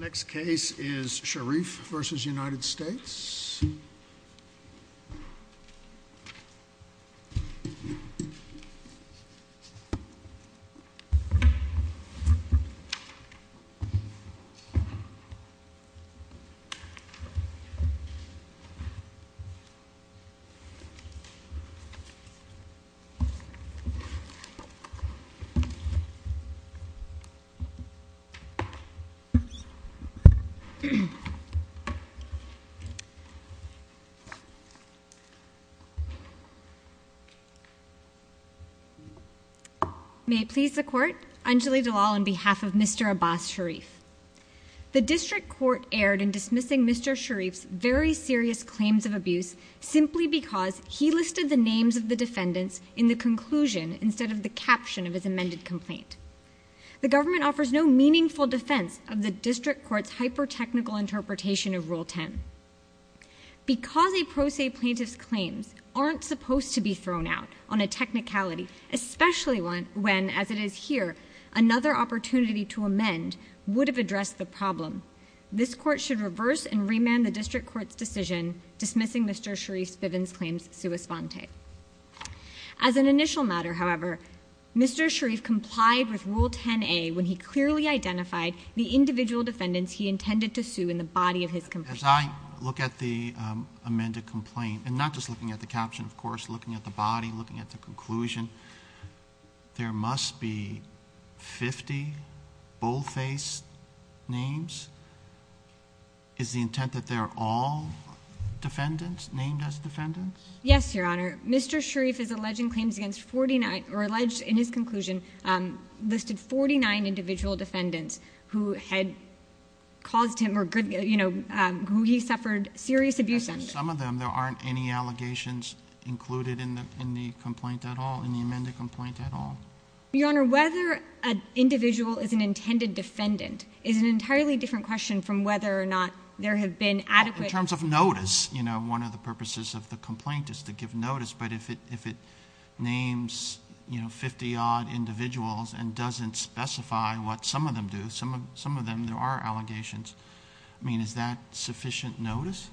Next case is Sharif v. United States May it please the Court, Anjali Dalal on behalf of Mr. Abbas Sharif. The District Court erred in dismissing Mr. Sharif's very serious claims of abuse simply because he listed the names of the defendants in the conclusion instead of the caption of his amended complaint. The government offers no meaningful defense of the District Court's hyper-technical interpretation of Rule 10. Because a pro se plaintiff's claims aren't supposed to be thrown out on a technicality, especially when, as it is here, another opportunity to amend would have addressed the problem, this Court should reverse and remand the District Court's decision dismissing Mr. Sharif Viven's claims sua sponte. As an initial matter, however, Mr. Sharif complied with Rule 10a when he clearly identified the individual defendants he intended to sue in the body of his complaint. As I look at the amended complaint, and not just looking at the caption, of course, looking at the body, looking at the conclusion, there must be 50 bold-faced names. Is the intent that they are all defendants, named as defendants? Yes, Your Honor. Mr. Sharif is alleging claims against 49, or alleged in his conclusion, listed 49 individual defendants who had caused him or who he suffered serious abuse under. Some of them, there aren't any allegations included in the complaint at all, in the amended complaint at all? Your Honor, whether an individual is an intended defendant is an entirely different question from whether or not there have been adequate- In terms of notice, you know, one of the purposes of the complaint is to give notice, but if it names, you know, 50 odd individuals and doesn't specify what some of them do, some of them, there are allegations, I mean, is that sufficient notice?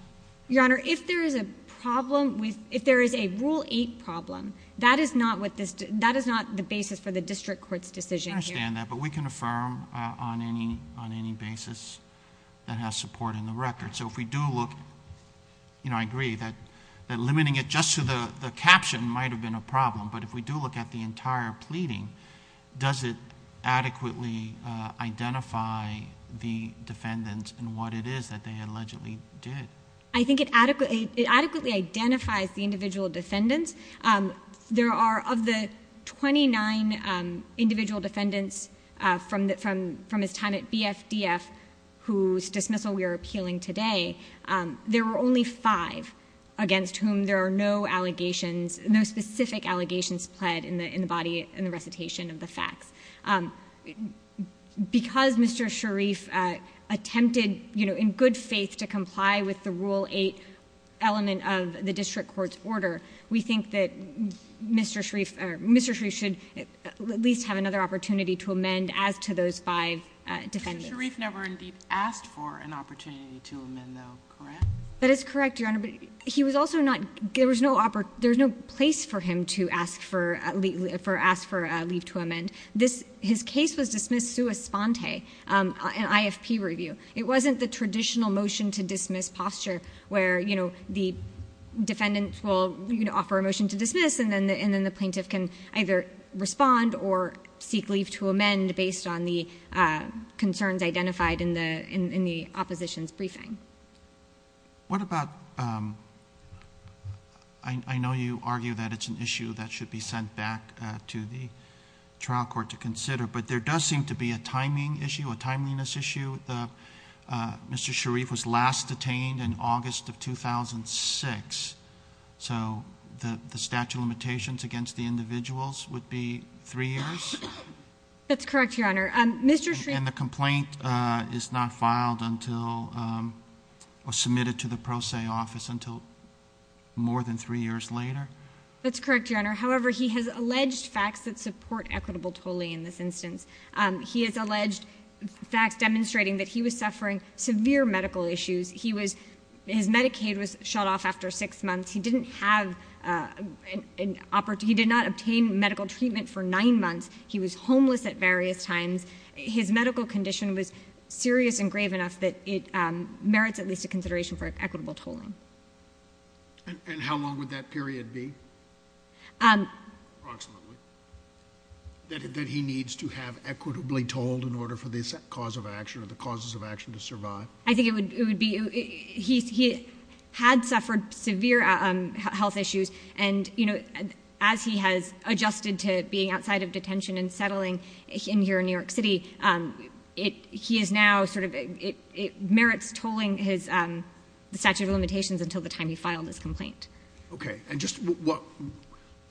Your Honor, if there is a problem, if there is a Rule 8 problem, that is not the basis for the District Court's decision here. I understand that, but we can affirm on any basis that has support in the record. If we do look, you know, I agree that limiting it just to the caption might have been a problem, but if we do look at the entire pleading, does it adequately identify the defendants and what it is that they allegedly did? I think it adequately identifies the individual defendants. There are, of the 29 individual defendants from his time at BFDF, whose dismissal we are appealing today, there were only five against whom there are no allegations, no specific allegations pled in the body, in the recitation of the facts. Because Mr. Sharif attempted, you know, in good faith to comply with the Rule 8 element of the District Court's order, we think that Mr. Sharif should at least have another opportunity to amend as to those five defendants. Mr. Sharif never indeed asked for an opportunity to amend though, correct? That is correct, Your Honor, but he was also not, there was no place for him to ask for leave to amend. His case was dismissed sua sponte, an IFP review. It wasn't the traditional motion to dismiss posture where, you know, the defendant will offer a motion to dismiss and then the plaintiff can either respond or seek leave to amend based on the concerns identified in the opposition's briefing. What about, I know you argue that it's an issue that should be sent back to the trial court to consider, but there does seem to be a timing issue, a timeliness issue. Mr. Sharif was last detained in August of 2006, so the statute of limitations against the individuals would be three years? That's correct, Your Honor. Mr. Sharif— And the complaint is not filed until, or submitted to the Pro Se office until more than three years later? That's correct, Your Honor. However, he has alleged facts that support equitable tolling in this instance. He has alleged facts demonstrating that he was suffering severe medical issues. He was, his Medicaid was shut off after six months. He didn't have an opportunity, he did not obtain medical treatment for nine months. He was homeless at various times. His medical condition was serious and grave enough that it merits at least a consideration for equitable tolling. And how long would that period be, approximately, that he needs to have equitably tolled in order for this cause of action or the causes of action to survive? I think it would be, he had suffered severe health issues and, you know, as he has adjusted to being outside of detention and settling in here in New York City, it, he is now sort of, it merits tolling his statute of limitations until the time he filed his complaint. Okay. And just what,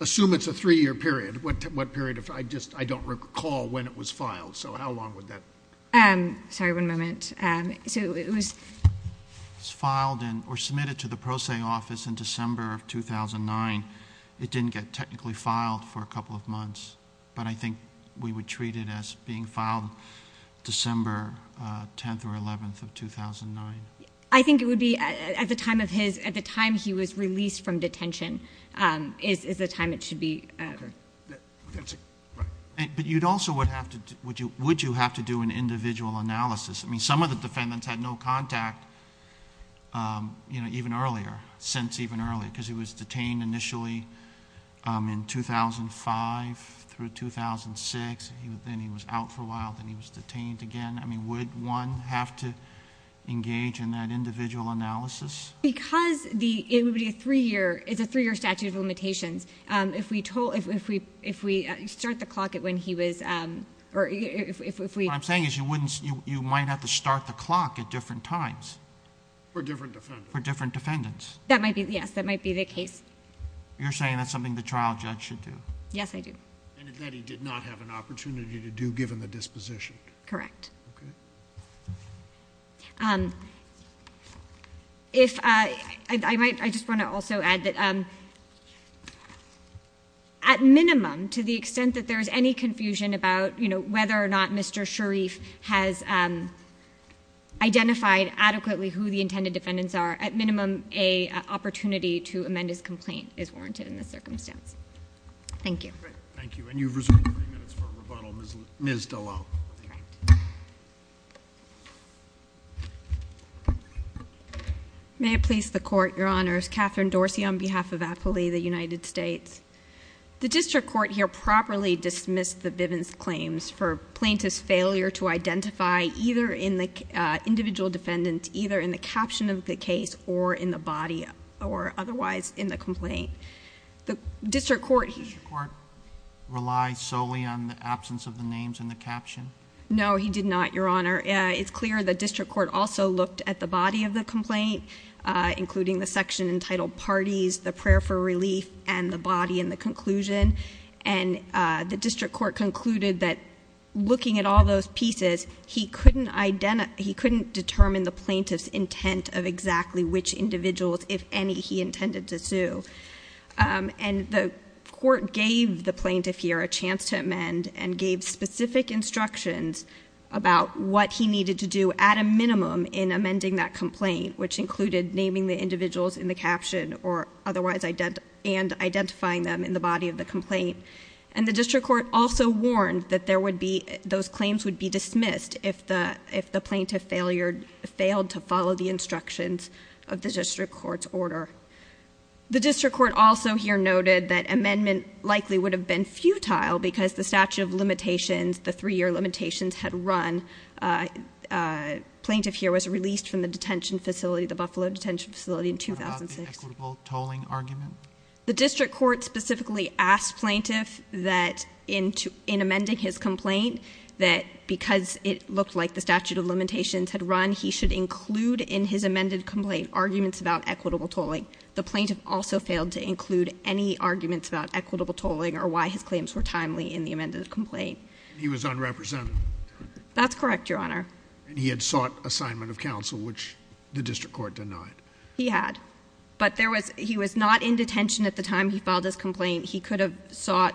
assume it's a three-year period, what period, I just, I don't recall when it was filed, so how long would that be? Sorry, one moment. So it was filed in or submitted to the pro se office in December of 2009. It didn't get technically filed for a couple of months, but I think we would treat it as being filed December 10th or 11th of 2009. I think it would be at the time of his, at the time he was released from detention is the time it should be. But you'd also would have to, would you, would you have to do an individual analysis? I mean, some of the defendants had no contact, you know, even earlier, since even earlier, because he was detained initially in 2005 through 2006. Then he was out for a while, then he was detained again. I mean, would one have to engage in that individual analysis? Because the, it would be a three-year, it's a three-year statute of limitations. If we start the clock at when he was, or if we... You might have to start the clock at different times. For different defendants. For different defendants. That might be, yes, that might be the case. You're saying that's something the trial judge should do? Yes, I do. And that he did not have an opportunity to do, given the disposition. Correct. If, I might, I just want to also add that at minimum, to the extent that there's any has identified adequately who the intended defendants are, at minimum, a opportunity to amend his complaint is warranted in this circumstance. Thank you. Thank you. And you've reserved three minutes for rebuttal. Ms. Dallal. May it please the Court, Your Honors. Catherine Dorsey on behalf of Appley, the United States. The district court here properly dismissed the Bivens claims for plaintiff's failure to identify either in the individual defendant, either in the caption of the case, or in the body, or otherwise in the complaint. The district court... Did the district court rely solely on the absence of the names in the caption? No, he did not, Your Honor. It's clear the district court also looked at the body of the complaint, including the section entitled parties, the prayer for relief, and the body in the conclusion. And the district court concluded that looking at all those pieces, he couldn't identify, he couldn't determine the plaintiff's intent of exactly which individuals, if any, he intended to sue. And the court gave the plaintiff here a chance to amend and gave specific instructions about what he needed to do at a minimum in amending that complaint, which included naming the individuals in the caption or otherwise... and identifying them in the body of the complaint. And the district court also warned that there would be... those claims would be dismissed if the plaintiff failed to follow the instructions of the district court's order. The district court also here noted that amendment likely would have been had run. Plaintiff here was released from the detention facility, the Buffalo detention facility in 2006. What about the equitable tolling argument? The district court specifically asked plaintiff that in amending his complaint that because it looked like the statute of limitations had run, he should include in his amended complaint arguments about equitable tolling. The plaintiff also failed to include any arguments about equitable tolling or why his claims were timely in the amended complaint. He was unrepresented. That's correct, Your Honor. And he had sought assignment of counsel, which the district court denied. He had. But there was... he was not in detention at the time he filed his complaint. He could have sought...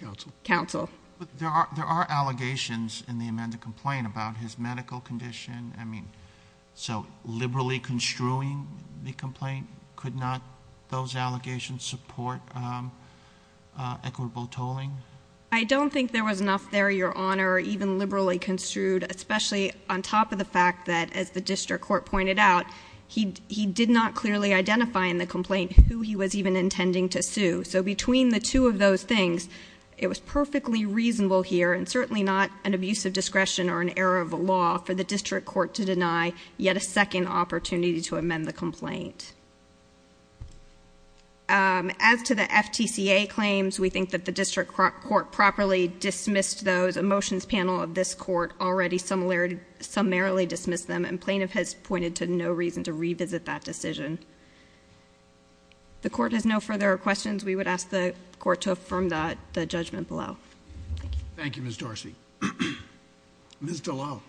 Counsel. Counsel. But there are... there are allegations in the amended complaint about his medical condition. I mean, so liberally construing the complaint could not... those allegations support equitable tolling? I don't think there was enough there, Your Honor, even liberally construed, especially on top of the fact that, as the district court pointed out, he did not clearly identify in the complaint who he was even intending to sue. So between the two of those things, it was perfectly reasonable here, and certainly not an abuse of discretion or an error of the law, for the district court to deny yet a second opportunity to amend the complaint. As to the FTCA claims, we think that the district court properly dismissed those. A motions panel of this court already summarily dismissed them, and plaintiff has pointed to no reason to revisit that decision. The court has no further questions. We would ask the court to affirm the judgment below. Thank you, Ms. Darcy. Ms. Dallal.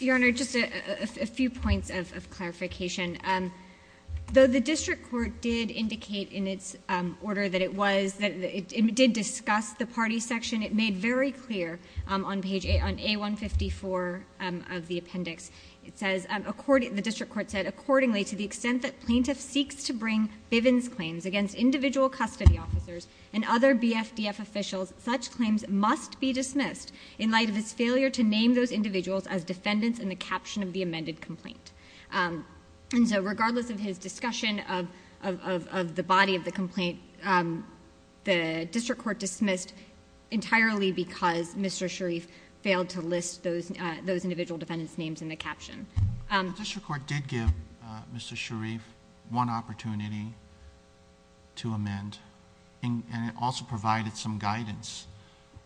Your Honor, just a few points of clarification. Though the district court did indicate in its order that it was... it did discuss the party section, it made very clear on page... on A-154 of the appendix, it says, according... the district court said, accordingly, to the extent that plaintiff seeks to bring Bivens claims against individual custody officers and other BFDF officials, such claims must be dismissed in light of his failure to name those individuals as defendants in the caption of the amended complaint. And so, regardless of his discussion of... of the body of the complaint, the district court dismissed entirely because Mr. Sharif failed to list those... those individual defendants' names in the caption. The district court did give Mr. Sharif one opportunity to amend, and it also provided some guidance.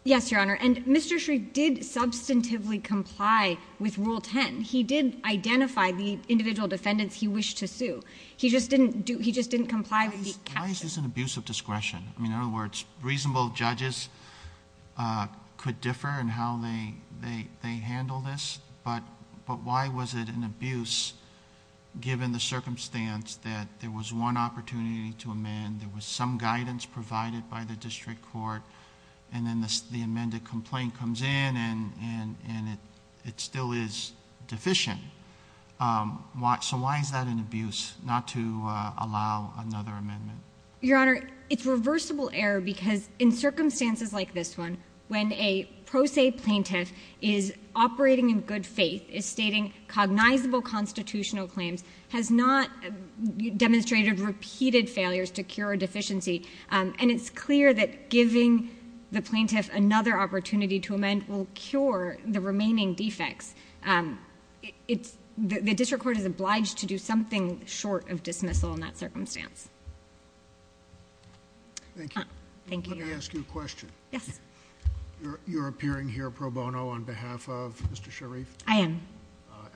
Yes, Your Honor. And Mr. Sharif did substantively comply with Rule 10. He did identify the individual defendants he wished to sue. He just didn't do... he just didn't comply with the... Why is this an abuse of discretion? I mean, in other words, reasonable judges could differ in how they... they... they handle this, but... but why was it an abuse, given the circumstance that there was one opportunity to amend, there was some guidance provided by the district court, and then the amended complaint comes in, and... and it... it still is deficient. So, why is that an abuse, not to allow another amendment? Your Honor, it's reversible error because in circumstances like this one, when a pro se plaintiff is operating in good faith, is stating cognizable constitutional claims, has not demonstrated repeated failures to cure a deficiency, and it's clear that giving the plaintiff another opportunity to amend will cure the remaining defects. It's... the district court is obliged to do something short of dismissal in that circumstance. Thank you, Your Honor. Let me ask you a question. Yes. You're appearing here pro bono on behalf of Mr. Sharif? I am.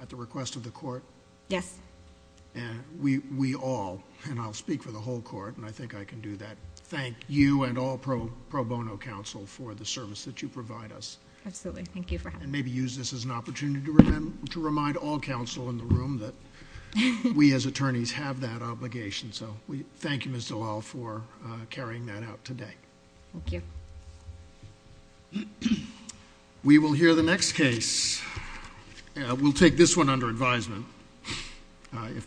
At the request of the court? Yes. And we all, and I'll speak for the whole court, and I think I can do that, thank you and all pro bono counsel for the service that you provide us. Absolutely. Thank you for having me. And maybe use this as an opportunity to remind all counsel in the room that we as attorneys have that obligation. So, we thank you, Ms. Dallal, for carrying that out today. Thank you. We will hear the next case. We'll take this one under advisement. All right.